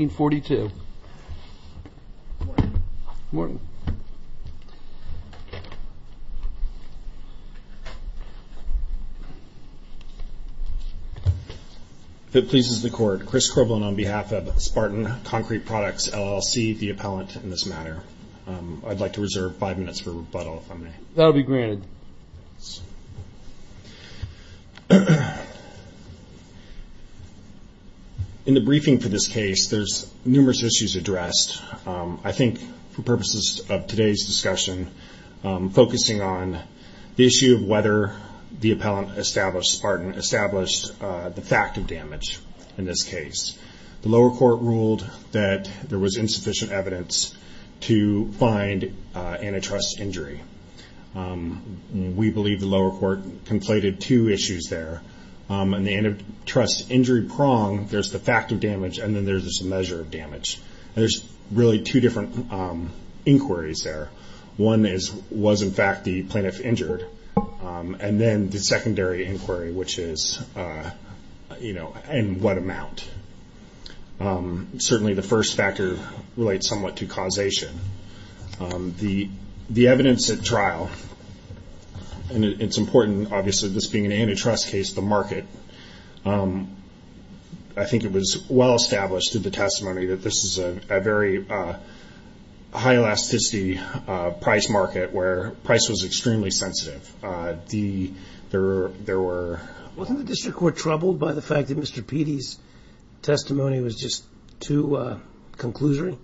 1942. If it pleases the court, Chris Corbelan on behalf of Spartan Concrete Products, LLC, the appellant in this matter. I'd like to reserve five minutes for rebuttal if I may. That'll be granted. In the briefing for this case, there's numerous issues addressed. I think for purposes of today's discussion, focusing on the issue of whether the appellant established the fact of damage in this case. The lower court ruled that there was insufficient evidence to find antitrust injury. We believe the lower court conflated two issues there. In the antitrust injury prong, there's the fact of damage and then there's this measure of damage. There's really two different inquiries there. One is, was in fact the plaintiff injured? And then the secondary inquiry, which is, in what amount? Certainly the first factor relates somewhat to causation. The evidence at trial, and it's important, obviously, this being an antitrust case, the market, I think it was well-established in the testimony that this is a very high-elasticity price market where price was extremely sensitive. There were... Wasn't the district court troubled by the fact that Mr. Petey's testimony was just too conclusory?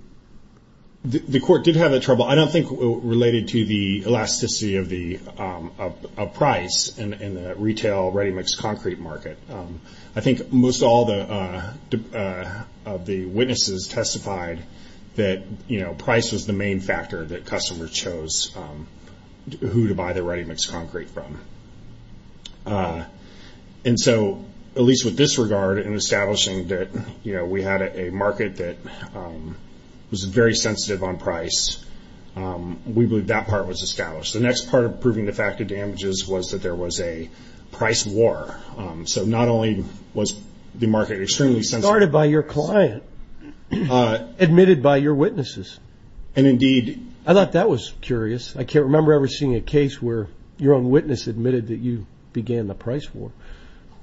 The court did have the trouble. I don't think it related to the elasticity of price in the retail ready-mix concrete market. I think most all of the witnesses testified that price was the main factor that customers chose who to buy the ready-mix concrete from. And so, at least with this regard, in establishing that we had a market that was very sensitive on price, we believe that part was established. The next part of proving the fact of damages was that there was a price war. So not only was the market extremely sensitive... It was started by your client, admitted by your witnesses. And indeed... I thought that was curious. I can't remember ever seeing a case where your own witness admitted that you began the price war.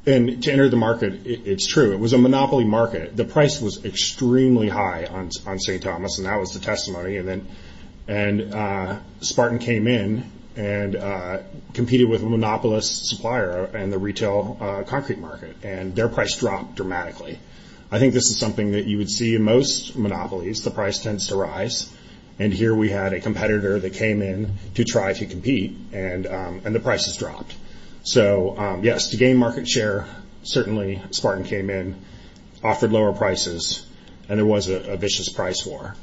And to enter the market, it's true. It was a monopoly market. The price was extremely high on St. Thomas, and that was the testimony. And Spartan came in and competed with a monopolist supplier in the retail concrete market, and their price dropped dramatically. I think this is something that you would see in most monopolies. The price tends to rise. And here we had a competitor that came in to try to compete, and the prices dropped. So, yes, to gain market share, certainly Spartan came in, offered lower prices, and there was a vicious price war.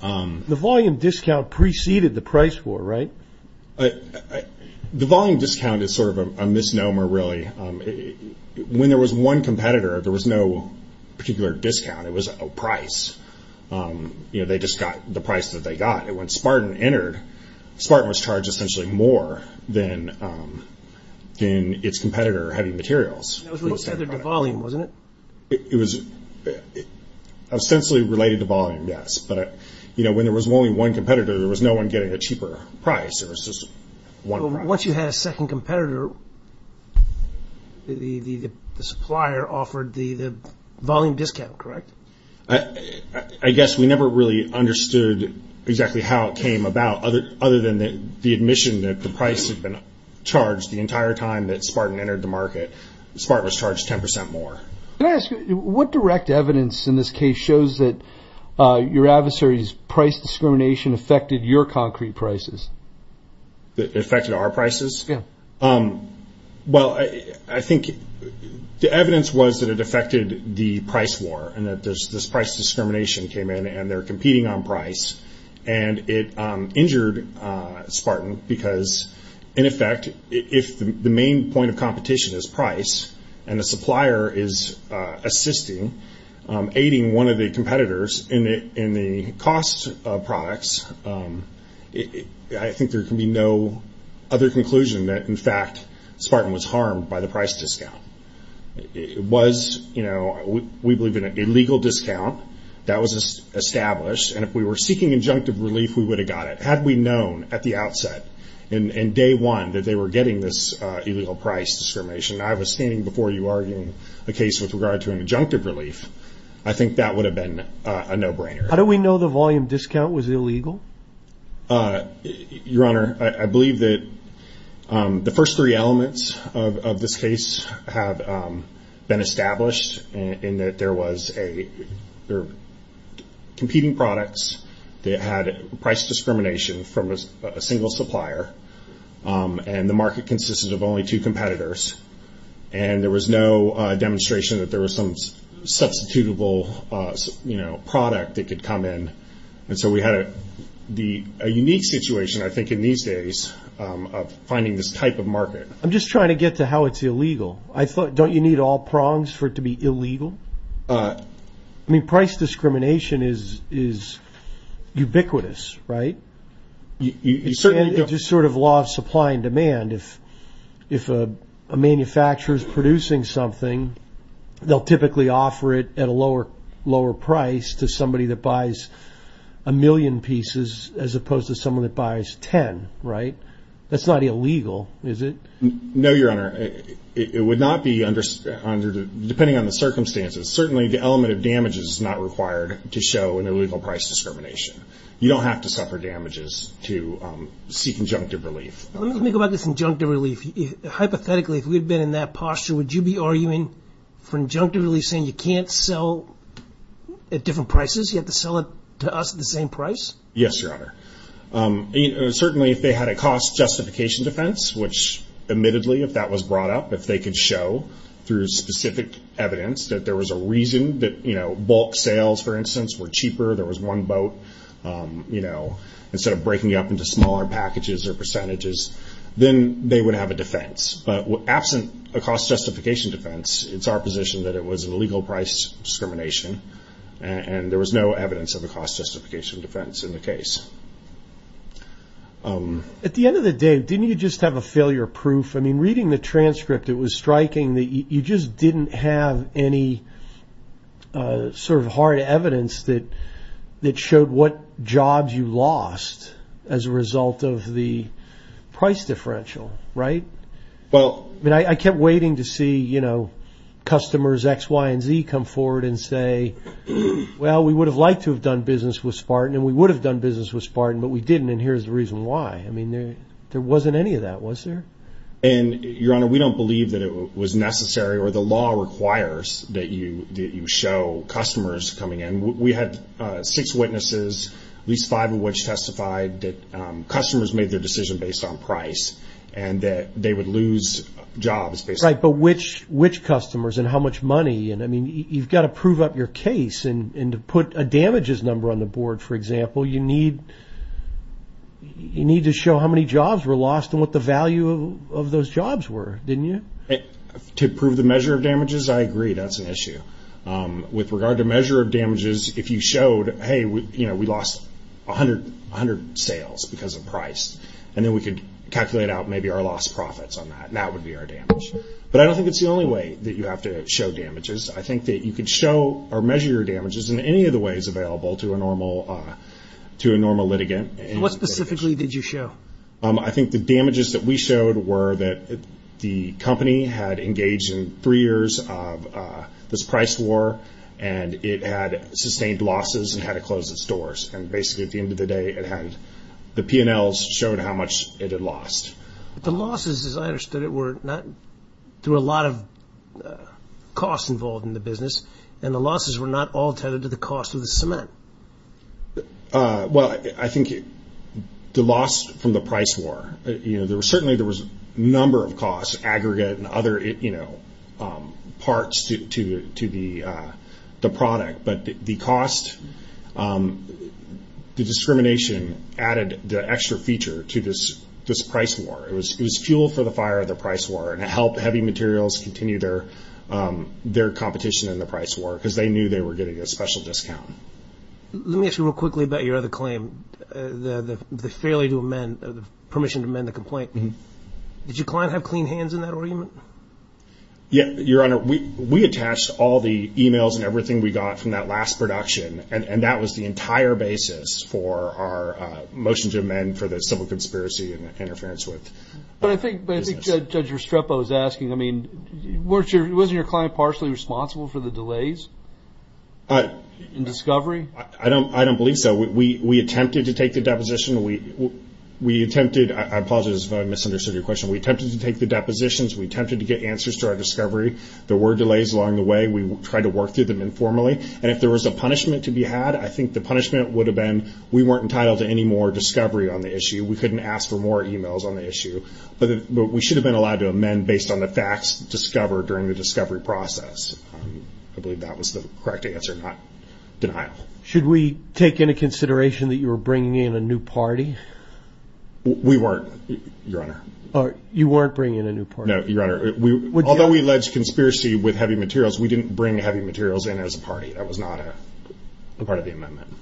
The volume discount preceded the price war, right? The volume discount is sort of a misnomer, really. When there was one competitor, there was no particular discount. It was a price. They just got the price that they got. And when Spartan entered, Spartan was charged essentially more than its competitor heavy materials. It was related to volume, wasn't it? It was essentially related to volume, yes. But when there was only one competitor, there was no one getting a cheaper price. There was just one price. Once you had a second competitor, the supplier offered the volume discount, correct? I guess we never really understood exactly how it came about, other than the admission that the price had been charged the entire time that Spartan entered the market. Spartan was charged 10% more. Can I ask you, what direct evidence in this case shows that your adversary's price discrimination affected your concrete prices? It affected our prices? Yes. Well, I think the evidence was that it affected the price war and that this price discrimination came in and they're competing on price. And it injured Spartan because, in effect, if the main point of competition is price and the supplier is assisting, aiding one of the competitors in the cost of products, I think there can be no other conclusion that, in fact, Spartan was harmed by the price discount. It was, we believe, an illegal discount. That was established. And if we were seeking injunctive relief, we would have got it. Had we known at the outset, in day one, that they were getting this illegal price discrimination, and I was standing before you arguing a case with regard to an injunctive relief, I think that would have been a no-brainer. How do we know the volume discount was illegal? Your Honor, I believe that the first three elements of this case have been established in that there were competing products that had price discrimination from a single supplier, and the market consisted of only two competitors. And there was no demonstration that there was some substitutable product that could come in. And so we had a unique situation, I think, in these days of finding this type of market. I'm just trying to get to how it's illegal. Don't you need all prongs for it to be illegal? I mean, price discrimination is ubiquitous, right? It's just sort of law of supply and demand. If a manufacturer is producing something, they'll typically offer it at a lower price to somebody that buys a million pieces as opposed to someone that buys ten, right? That's not illegal, is it? No, Your Honor. It would not be, depending on the circumstances, certainly the element of damage is not required to show an illegal price discrimination. You don't have to suffer damages to seek injunctive relief. Let me think about this injunctive relief. Hypothetically, if we had been in that posture, would you be arguing for injunctive relief saying you can't sell at different prices, you have to sell it to us at the same price? Yes, Your Honor. Certainly if they had a cost justification defense, which admittedly, if that was brought up, if they could show through specific evidence that there was a reason that bulk sales, for instance, were cheaper, there was one boat, instead of breaking it up into smaller packages or percentages, then they would have a defense. But absent a cost justification defense, it's our position that it was an illegal price discrimination, and there was no evidence of a cost justification defense in the case. At the end of the day, didn't you just have a failure proof? I mean, reading the transcript, it was striking that you just didn't have any sort of hard evidence that showed what jobs you lost as a result of the price differential, right? I mean, I kept waiting to see customers X, Y, and Z come forward and say, well, we would have liked to have done business with Spartan, and we would have done business with Spartan, but we didn't, and here's the reason why. I mean, there wasn't any of that, was there? Your Honor, we don't believe that it was necessary or the law requires that you show customers coming in. We had six witnesses, at least five of which testified that customers made their decision based on price and that they would lose jobs based on price. Right, but which customers and how much money? I mean, you've got to prove up your case, and to put a damages number on the board, for example, you need to show how many jobs were lost and what the value of those jobs were, didn't you? To prove the measure of damages, I agree, that's an issue. With regard to measure of damages, if you showed, hey, we lost 100 sales because of price, and then we could calculate out maybe our lost profits on that, and that would be our damage. But I don't think it's the only way that you have to show damages. I think that you could show or measure your damages in any of the ways available to a normal litigant. What specifically did you show? I think the damages that we showed were that the company had engaged in three years of this price war, and it had sustained losses and had to close its doors. And basically at the end of the day, the P&Ls showed how much it had lost. The losses, as I understood it, were not through a lot of costs involved in the business, and the losses were not all tethered to the cost of the cement. Well, I think the loss from the price war, certainly there was a number of costs, aggregate and other parts to the product. But the cost, the discrimination added the extra feature to this price war. It was fuel for the fire of the price war, and it helped heavy materials continue their competition in the price war because they knew they were getting a special discount. Let me ask you real quickly about your other claim, the failure to amend, the permission to amend the complaint. Did your client have clean hands in that arraignment? Your Honor, we attached all the e-mails and everything we got from that last production, and that was the entire basis for our motion to amend for the civil conspiracy and interference with business. But I think Judge Restrepo is asking, I mean, wasn't your client partially responsible for the delays in discovery? I don't believe so. We attempted to take the deposition. I apologize if I misunderstood your question. We attempted to take the depositions. We attempted to get answers to our discovery. There were delays along the way. We tried to work through them informally, and if there was a punishment to be had, I think the punishment would have been we weren't entitled to any more discovery on the issue. We couldn't ask for more e-mails on the issue. But we should have been allowed to amend based on the facts discovered during the discovery process. I believe that was the correct answer, not denial. Should we take into consideration that you were bringing in a new party? We weren't, Your Honor. You weren't bringing in a new party? No, Your Honor. Although we alleged conspiracy with heavy materials, we didn't bring heavy materials in as a party. That was not a part of the amendment.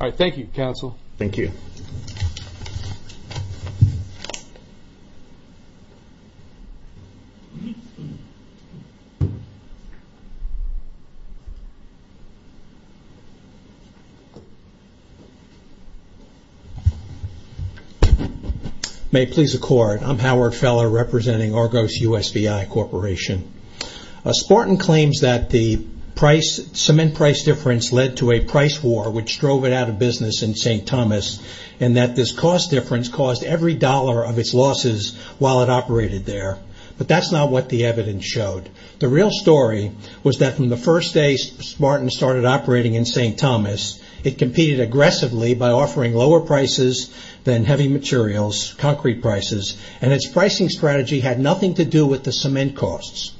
All right. Thank you, counsel. Thank you. May it please the Court. I'm Howard Feller, representing Argos USVI Corporation. Spartan claims that the cement price difference led to a price war, which drove it out of business in St. Thomas, and that this cost difference caused every dollar of its losses while it operated there. But that's not what the evidence showed. The real story was that from the first day Spartan started operating in St. Thomas, it competed aggressively by offering lower prices than heavy materials, concrete prices, and its pricing strategy had nothing to do with the cement costs.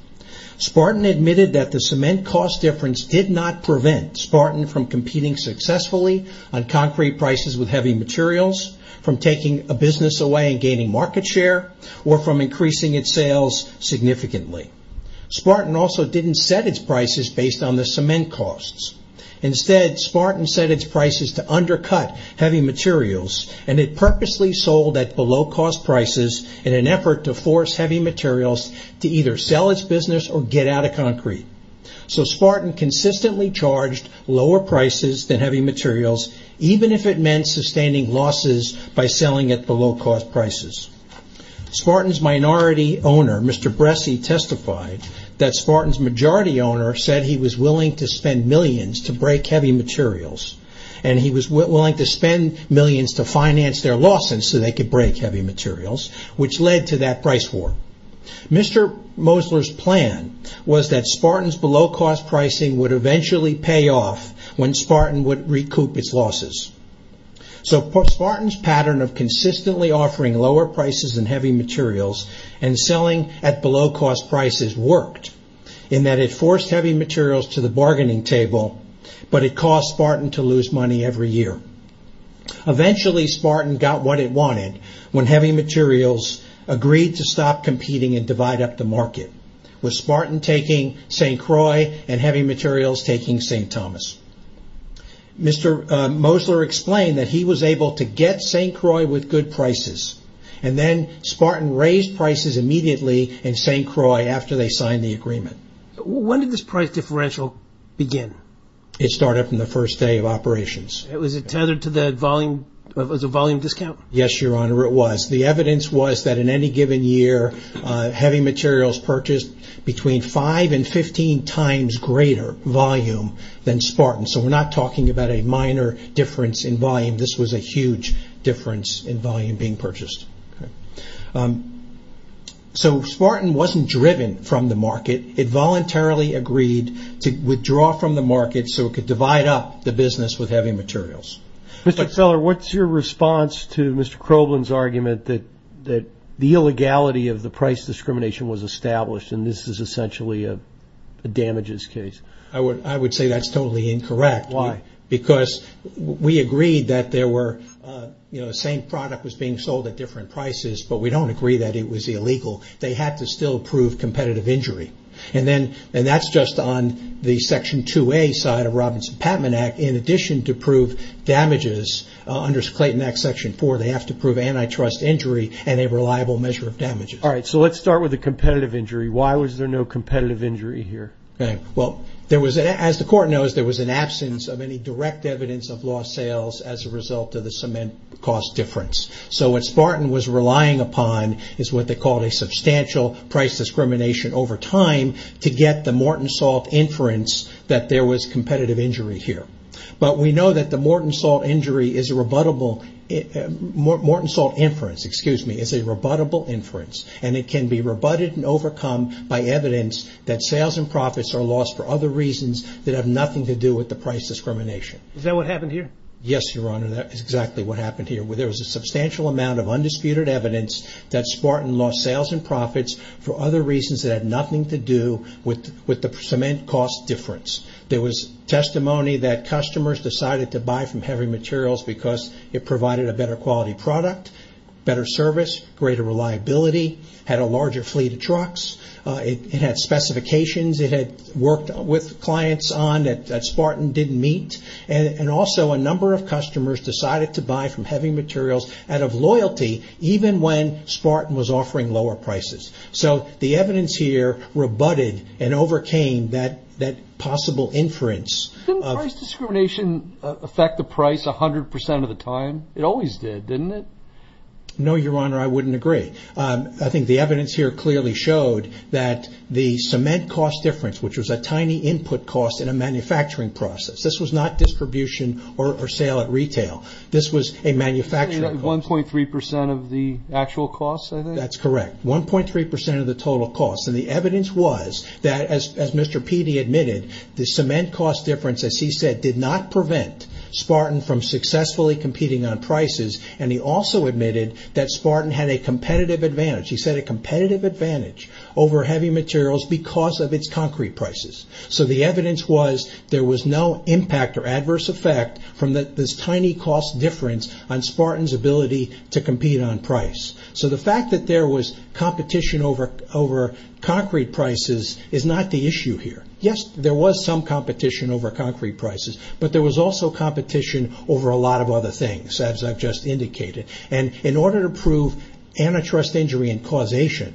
Spartan admitted that the cement cost difference did not prevent Spartan from competing successfully on concrete prices with heavy materials, from taking a business away and gaining market share, or from increasing its sales significantly. Spartan also didn't set its prices based on the cement costs. Instead, Spartan set its prices to undercut heavy materials, and it purposely sold at below-cost prices in an effort to force heavy materials to either sell its business or get out of concrete. So Spartan consistently charged lower prices than heavy materials, even if it meant sustaining losses by selling at below-cost prices. Spartan's minority owner, Mr. Bresci, testified that Spartan's majority owner said he was willing to spend millions to break heavy materials, and he was willing to spend millions to finance their losses so they could break heavy materials, which led to that price war. Mr. Mosler's plan was that Spartan's below-cost pricing would eventually pay off when Spartan would recoup its losses. So Spartan's pattern of consistently offering lower prices than heavy materials and selling at below-cost prices worked, in that it forced heavy materials to the bargaining table, but it caused Spartan to lose money every year. Eventually, Spartan got what it wanted when heavy materials agreed to stop competing and divide up the market, with Spartan taking St. Croix and heavy materials taking St. Thomas. Mr. Mosler explained that he was able to get St. Croix with good prices, and then Spartan raised prices immediately in St. Croix after they signed the agreement. When did this price differential begin? It started on the first day of operations. Was it tethered to the volume discount? Yes, Your Honor, it was. The evidence was that in any given year, heavy materials purchased between 5 and 15 times greater volume than Spartan. So we're not talking about a minor difference in volume. This was a huge difference in volume being purchased. So Spartan wasn't driven from the market. It voluntarily agreed to withdraw from the market so it could divide up the business with heavy materials. Mr. Keller, what's your response to Mr. Kroblin's argument that the illegality of the price discrimination was established and this is essentially a damages case? I would say that's totally incorrect. Why? Because we agreed that the same product was being sold at different prices, but we don't agree that it was illegal. They had to still prove competitive injury. And that's just on the Section 2A side of Robinson-Patman Act. In addition to prove damages under Clayton Act Section 4, they have to prove antitrust injury and a reliable measure of damages. All right, so let's start with the competitive injury. Why was there no competitive injury here? As the Court knows, there was an absence of any direct evidence of lost sales as a result of the cement cost difference. So what Spartan was relying upon is what they called a substantial price discrimination over time to get the Morton Salt inference that there was competitive injury here. But we know that the Morton Salt inference is a rebuttable inference and it can be rebutted and overcome by evidence that sales and profits are lost for other reasons that have nothing to do with the price discrimination. Is that what happened here? Yes, Your Honor, that is exactly what happened here. There was a substantial amount of undisputed evidence that Spartan lost sales and profits for other reasons that had nothing to do with the cement cost difference. There was testimony that customers decided to buy from Heavy Materials because it provided a better quality product, better service, greater reliability, had a larger fleet of trucks. It had specifications it had worked with clients on that Spartan didn't meet. And also a number of customers decided to buy from Heavy Materials out of loyalty even when Spartan was offering lower prices. So the evidence here rebutted and overcame that possible inference. Didn't price discrimination affect the price 100% of the time? It always did, didn't it? No, Your Honor, I wouldn't agree. I think the evidence here clearly showed that the cement cost difference, which was a tiny input cost in a manufacturing process, this was not distribution or sale at retail. This was a manufacturing cost. 1.3% of the actual cost, I think? That's correct, 1.3% of the total cost. And the evidence was that, as Mr. Peede admitted, the cement cost difference, as he said, did not prevent Spartan from successfully competing on prices. And he also admitted that Spartan had a competitive advantage. He said a competitive advantage over Heavy Materials because of its concrete prices. So the evidence was there was no impact or adverse effect from this tiny cost difference on Spartan's ability to compete on price. So the fact that there was competition over concrete prices is not the issue here. Yes, there was some competition over concrete prices, but there was also competition over a lot of other things, as I've just indicated. And in order to prove antitrust injury and causation,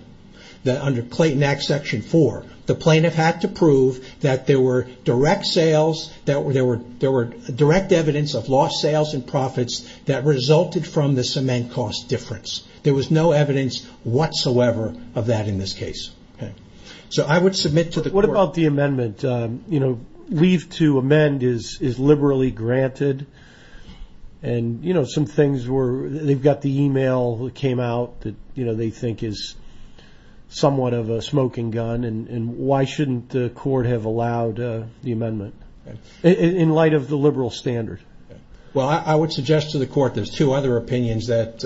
under Clayton Act Section 4, the plaintiff had to prove that there were direct evidence of lost sales and profits that resulted from the cement cost difference. There was no evidence whatsoever of that in this case. So I would submit to the court. What about the amendment? Leave to amend is liberally granted. They've got the email that came out that they think is somewhat of a smoking gun. Why shouldn't the court have allowed the amendment in light of the liberal standard? Well, I would suggest to the court there's two other opinions that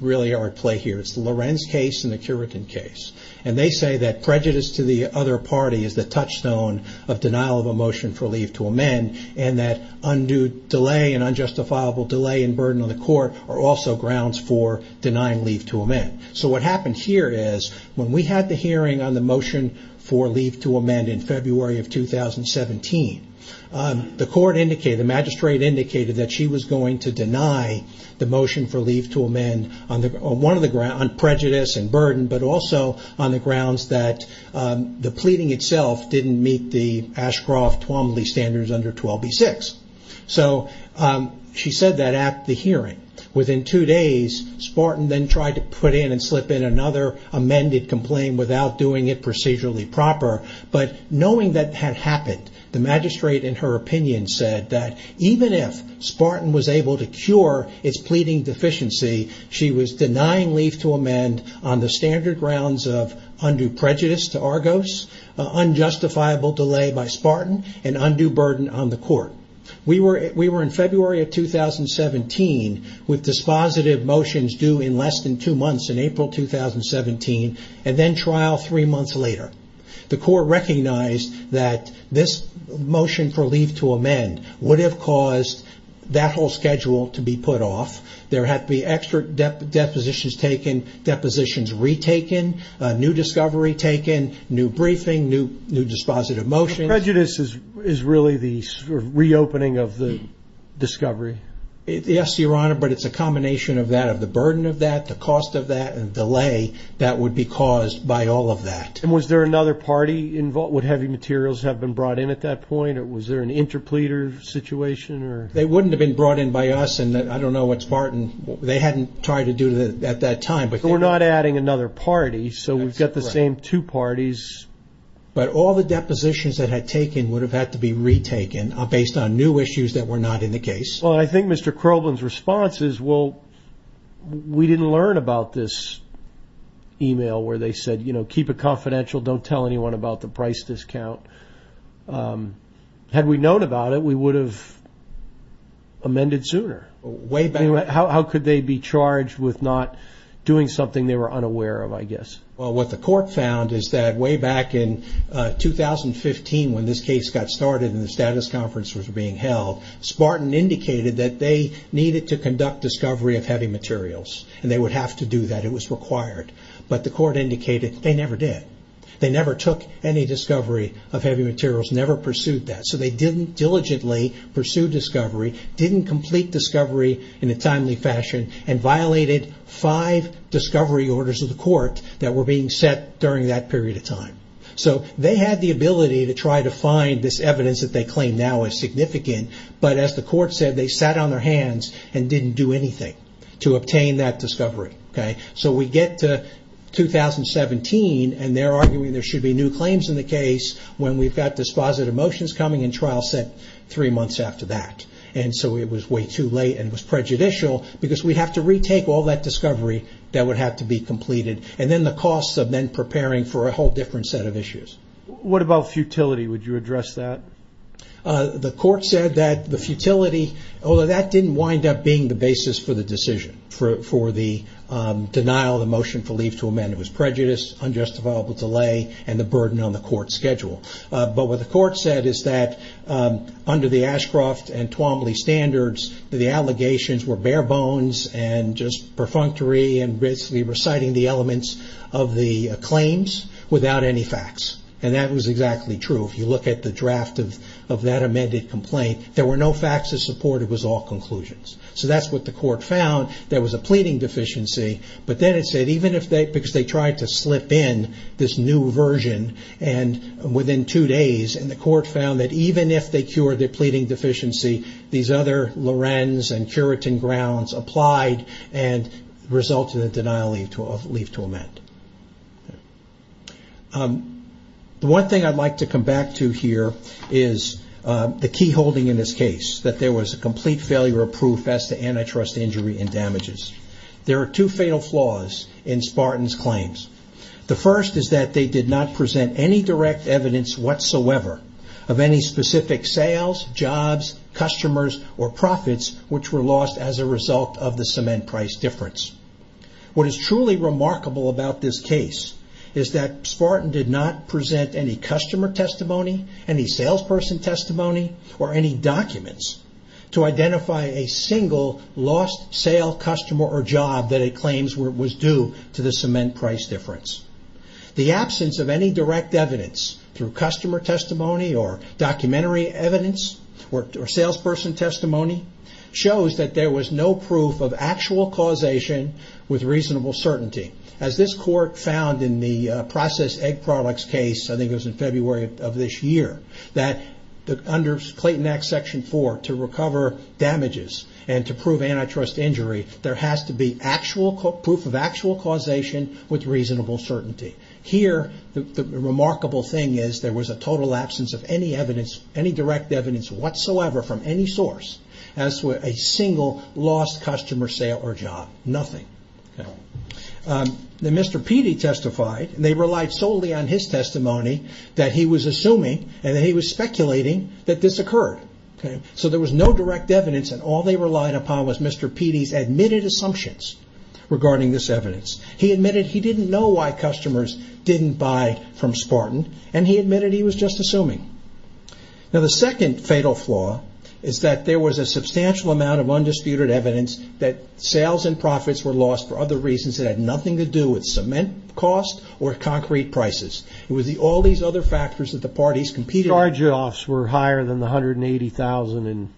really are at play here. It's the Lorenz case and the Currican case. And they say that prejudice to the other party is the touchstone of denial of a motion for leave to amend and that undue delay and unjustifiable delay and burden on the court are also grounds for denying leave to amend. So what happened here is when we had the hearing on the motion for leave to amend in February of 2017, the court indicated, the magistrate indicated, that she was going to deny the motion for leave to amend on prejudice and burden, but also on the grounds that the pleading itself didn't meet the Ashcroft-Tuomaly standards under 12b-6. So she said that at the hearing. Within two days, Spartan then tried to put in and slip in another amended complaint without doing it procedurally proper. But knowing that had happened, the magistrate, in her opinion, said that even if Spartan was able to cure its pleading deficiency, she was denying leave to amend on the standard grounds of undue prejudice to Argos, unjustifiable delay by Spartan, and undue burden on the court. We were in February of 2017 with dispositive motions due in less than two months, in April 2017, and then trial three months later. The court recognized that this motion for leave to amend would have caused that whole schedule to be put off. There had to be extra depositions taken, depositions retaken, new discovery taken, new briefing, new dispositive motions. So prejudice is really the reopening of the discovery? Yes, Your Honor, but it's a combination of that, of the burden of that, the cost of that, and delay that would be caused by all of that. And was there another party involved? Would heavy materials have been brought in at that point, or was there an interpleader situation? They wouldn't have been brought in by us, and I don't know what Spartan, they hadn't tried to do it at that time. But we're not adding another party, so we've got the same two parties. But all the depositions that had taken would have had to be retaken based on new issues that were not in the case. Well, I think Mr. Kroblin's response is, well, we didn't learn about this email where they said, you know, keep it confidential, don't tell anyone about the price discount. Had we known about it, we would have amended sooner. How could they be charged with not doing something they were unaware of, I guess? Well, what the court found is that way back in 2015, when this case got started and the status conference was being held, Spartan indicated that they needed to conduct discovery of heavy materials, and they would have to do that, it was required. But the court indicated they never did. They never took any discovery of heavy materials, never pursued that. So they didn't diligently pursue discovery, didn't complete discovery in a timely fashion, and violated five discovery orders of the court that were being set during that period of time. So they had the ability to try to find this evidence that they claim now is significant, but as the court said, they sat on their hands and didn't do anything to obtain that discovery. So we get to 2017, and they're arguing there should be new claims in the case when we've got dispositive motions coming in trial set three months after that. And so it was way too late, and it was prejudicial, because we'd have to retake all that discovery that would have to be completed, and then the costs of then preparing for a whole different set of issues. What about futility? Would you address that? The court said that the futility, although that didn't wind up being the basis for the decision, for the denial of the motion for leave to amend, it was prejudice, unjustifiable delay, and the burden on the court schedule. But what the court said is that under the Ashcroft and Twombly standards, the allegations were bare bones and just perfunctory, and basically reciting the elements of the claims without any facts. And that was exactly true. If you look at the draft of that amended complaint, there were no facts to support it. It was all conclusions. So that's what the court found. There was a pleading deficiency, but then it said, because they tried to slip in this new version within two days, and the court found that even if they cured their pleading deficiency, these other Lorenz and Curitin grounds applied and resulted in a denial of leave to amend. The one thing I'd like to come back to here is the key holding in this case, that there was a complete failure of proof as to antitrust injury and damages. There are two fatal flaws in Spartan's claims. The first is that they did not present any direct evidence whatsoever of any specific sales, jobs, customers, or profits which were lost as a result of the cement price difference. What is truly remarkable about this case is that Spartan did not present any customer testimony, any salesperson testimony, or any documents to identify a single lost sale, customer, or job that it claims was due to the cement price difference. The absence of any direct evidence through customer testimony or documentary evidence or salesperson testimony shows that there was no proof of actual causation with reasonable certainty. As this court found in the processed egg products case, I think it was in February of this year, that under Clayton Act Section 4, to recover damages and to prove antitrust injury, there has to be proof of actual causation with reasonable certainty. Here, the remarkable thing is there was a total absence of any direct evidence whatsoever from any source as to a single lost customer, sale, or job. Nothing. Mr. Petey testified. They relied solely on his testimony that he was assuming, and he was speculating, that this occurred. There was no direct evidence, and all they relied upon was Mr. Petey's admitted assumptions regarding this evidence. He admitted he didn't know why customers didn't buy from Spartan, and he admitted he was just assuming. The second fatal flaw is that there was a substantial amount of undisputed evidence that sales and profits were lost for other reasons that had nothing to do with cement cost or concrete prices. It was all these other factors that the parties competed with. Charge-offs were higher than the $180,000 in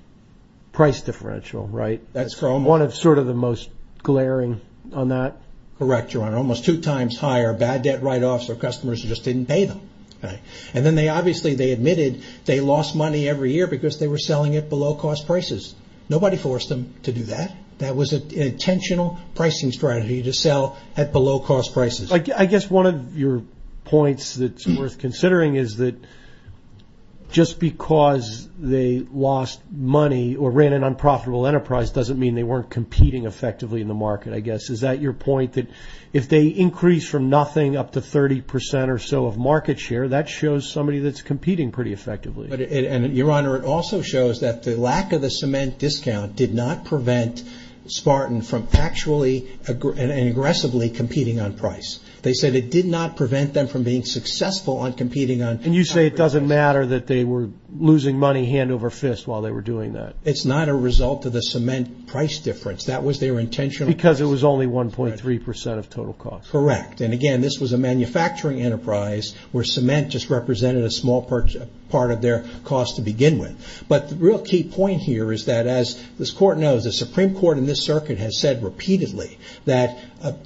price differential, right? That's correct. One of sort of the most glaring on that? Correct, Your Honor. Almost two times higher. Bad debt write-offs where customers just didn't pay them. And then they obviously admitted they lost money every year because they were selling at below-cost prices. Nobody forced them to do that. That was an intentional pricing strategy to sell at below-cost prices. I guess one of your points that's worth considering is that just because they lost money or ran an unprofitable enterprise doesn't mean they weren't competing effectively in the market, I guess. Is that your point, that if they increase from nothing up to 30% or so of market share, that shows somebody that's competing pretty effectively? Your Honor, it also shows that the lack of the cement discount did not prevent Spartan from actually and aggressively competing on price. They said it did not prevent them from being successful on competing on price. And you say it doesn't matter that they were losing money hand over fist while they were doing that. It's not a result of the cement price difference. That was their intentional price. Because it was only 1.3% of total cost. Correct. And again, this was a manufacturing enterprise where cement just represented a small part of their cost to begin with. But the real key point here is that as this Court knows, the Supreme Court in this circuit has said repeatedly that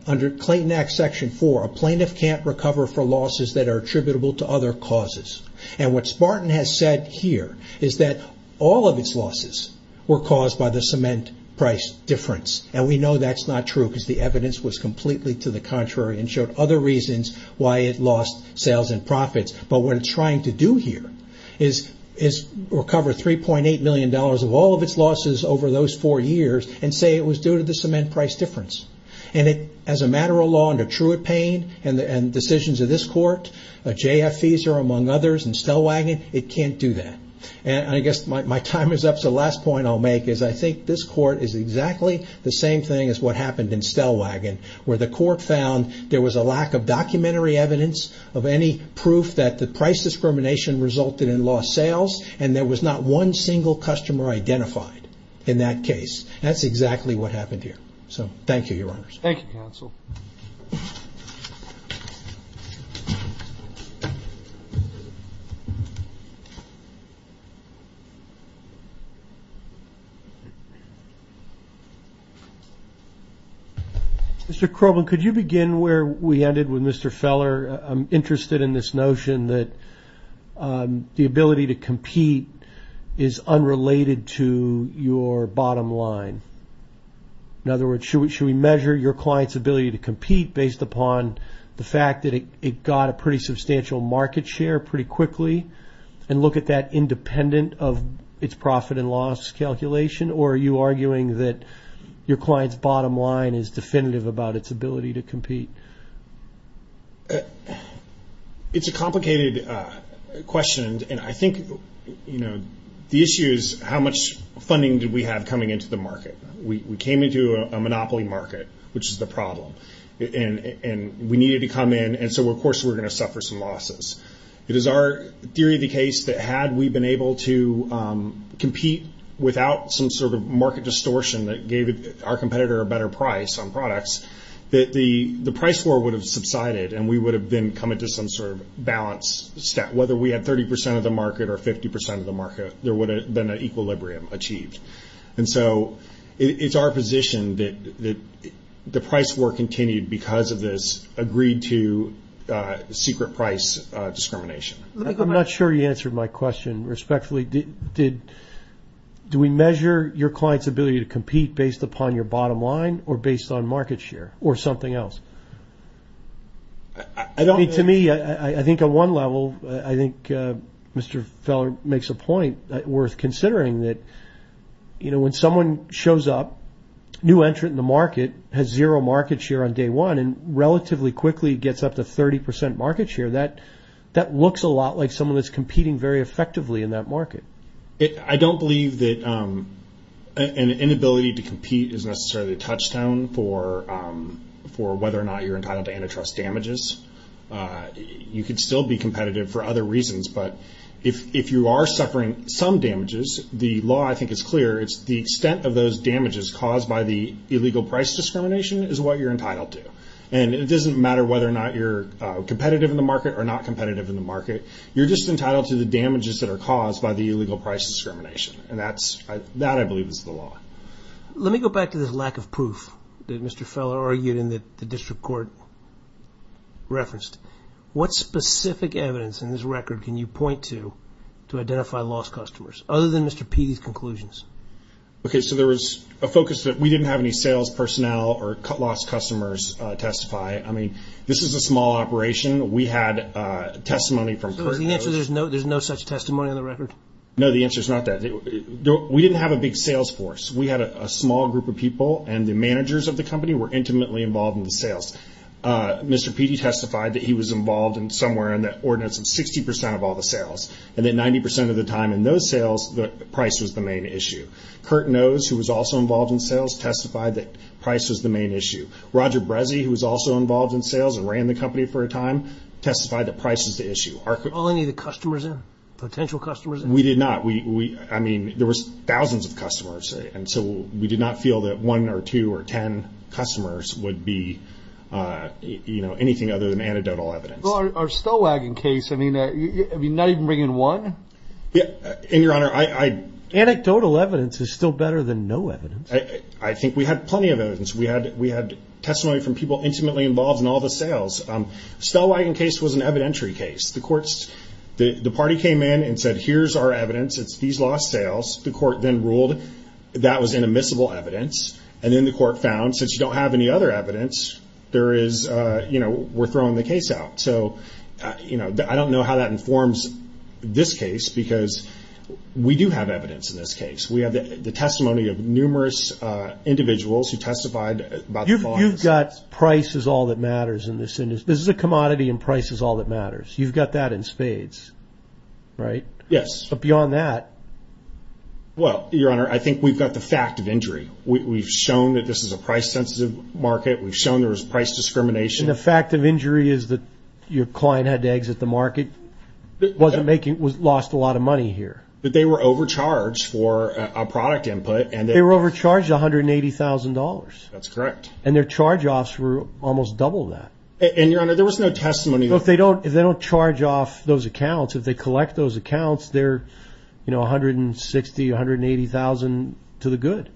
under Clayton Act Section 4, a plaintiff can't recover for losses that are attributable to other causes. And what Spartan has said here is that all of its losses were caused by the cement price difference. And we know that's not true because the evidence was completely to the contrary and showed other reasons why it lost sales and profits. But what it's trying to do here is recover $3.8 million of all of its losses over those four years and say it was due to the cement price difference. And as a matter of law under Truett Payne and decisions of this Court, J.F. Fieser among others and Stellwagen, it can't do that. And I guess my time is up so the last point I'll make is I think this Court is exactly the same thing as what happened in Stellwagen where the Court found there was a lack of documentary evidence of any proof that the price discrimination resulted in lost sales and there was not one single customer identified in that case. That's exactly what happened here. So thank you, Your Honors. Thank you, Counsel. Mr. Crowman, could you begin where we ended with Mr. Feller? I'm interested in this notion that the ability to compete is unrelated to your bottom line. In other words, should we measure your client's ability to compete based upon the fact that it got a pretty substantial market share pretty quickly and look at that independent of its profit and loss calculation? Or are you arguing that your client's bottom line is definitive about its ability to compete? It's a complicated question. And I think the issue is how much funding did we have coming into the market? We came into a monopoly market, which is the problem. And we needed to come in and so, of course, we're going to suffer some losses. It is our theory of the case that had we been able to compete without some sort of market distortion that gave our competitor a better price on products, that the price floor would have subsided and we would have then come into some sort of balance step. Whether we had 30 percent of the market or 50 percent of the market, there would have been an equilibrium achieved. And so it's our position that the price floor continued because of this agreed to secret price discrimination. I'm not sure you answered my question respectfully. Do we measure your client's ability to compete based upon your bottom line or based on market share or something else? To me, I think on one level, I think Mr. Feller makes a point worth considering that when someone shows up, new entrant in the market has zero market share on day one and relatively quickly gets up to 30 percent market share, that looks a lot like someone that's competing very effectively in that market. I don't believe that an inability to compete is necessarily a touchstone for whether or not you're entitled to antitrust damages. You could still be competitive for other reasons, but if you are suffering some damages, the law, I think, is clear. It's the extent of those damages caused by the illegal price discrimination is what you're entitled to. And it doesn't matter whether or not you're competitive in the market or not competitive in the market. You're just entitled to the damages that are caused by the illegal price discrimination. And that, I believe, is the law. Let me go back to this lack of proof that Mr. Feller argued and that the district court referenced. What specific evidence in this record can you point to to identify lost customers, other than Mr. Petey's conclusions? Okay, so there was a focus that we didn't have any sales personnel or lost customers testify. I mean, this is a small operation. We had testimony from personal. So the answer is there's no such testimony on the record? No, the answer is not that. We didn't have a big sales force. We had a small group of people, and the managers of the company were intimately involved in the sales. Mr. Petey testified that he was involved in somewhere in the ordinance of 60 percent of all the sales, and that 90 percent of the time in those sales, the price was the main issue. Curt Nose, who was also involved in sales, testified that price was the main issue. Roger Brezzi, who was also involved in sales and ran the company for a time, testified that price was the issue. Are any of the customers in, potential customers in? We did not. I mean, there was thousands of customers, and so we did not feel that one or two or ten customers would be anything other than anecdotal evidence. Well, our Stellwagen case, I mean, not even bringing one? And, Your Honor, I- Anecdotal evidence is still better than no evidence. I think we had plenty of evidence. We had testimony from people intimately involved in all the sales. Stellwagen case was an evidentiary case. The courts, the party came in and said, here's our evidence. It's these lost sales. The court then ruled that was inadmissible evidence, and then the court found since you don't have any other evidence, there is, you know, we're throwing the case out. So, you know, I don't know how that informs this case, because we do have evidence in this case. We have the testimony of numerous individuals who testified about- You've got price is all that matters in this. This is a commodity, and price is all that matters. You've got that in spades, right? Yes. But beyond that- Well, Your Honor, I think we've got the fact of injury. We've shown that this is a price-sensitive market. We've shown there was price discrimination. And the fact of injury is that your client had to exit the market, wasn't making-lost a lot of money here. But they were overcharged for a product input. They were overcharged $180,000. That's correct. And their charge-offs were almost double that. And, Your Honor, there was no testimony- Look, if they don't charge off those accounts, if they collect those accounts, they're, you know, $160,000, $180,000 to the good.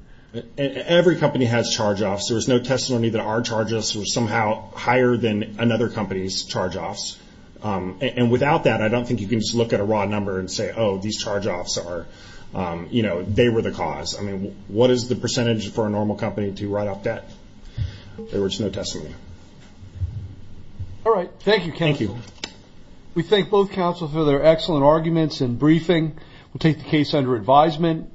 Every company has charge-offs. There was no testimony that our charges were somehow higher than another company's charge-offs. And without that, I don't think you can just look at a raw number and say, oh, these charge-offs are-you know, they were the cause. I mean, what is the percentage for a normal company to write off debt? There was no testimony. All right. Thank you, counsel. Thank you. We thank both counsel for their excellent arguments and briefing. We'll take the case under advisement.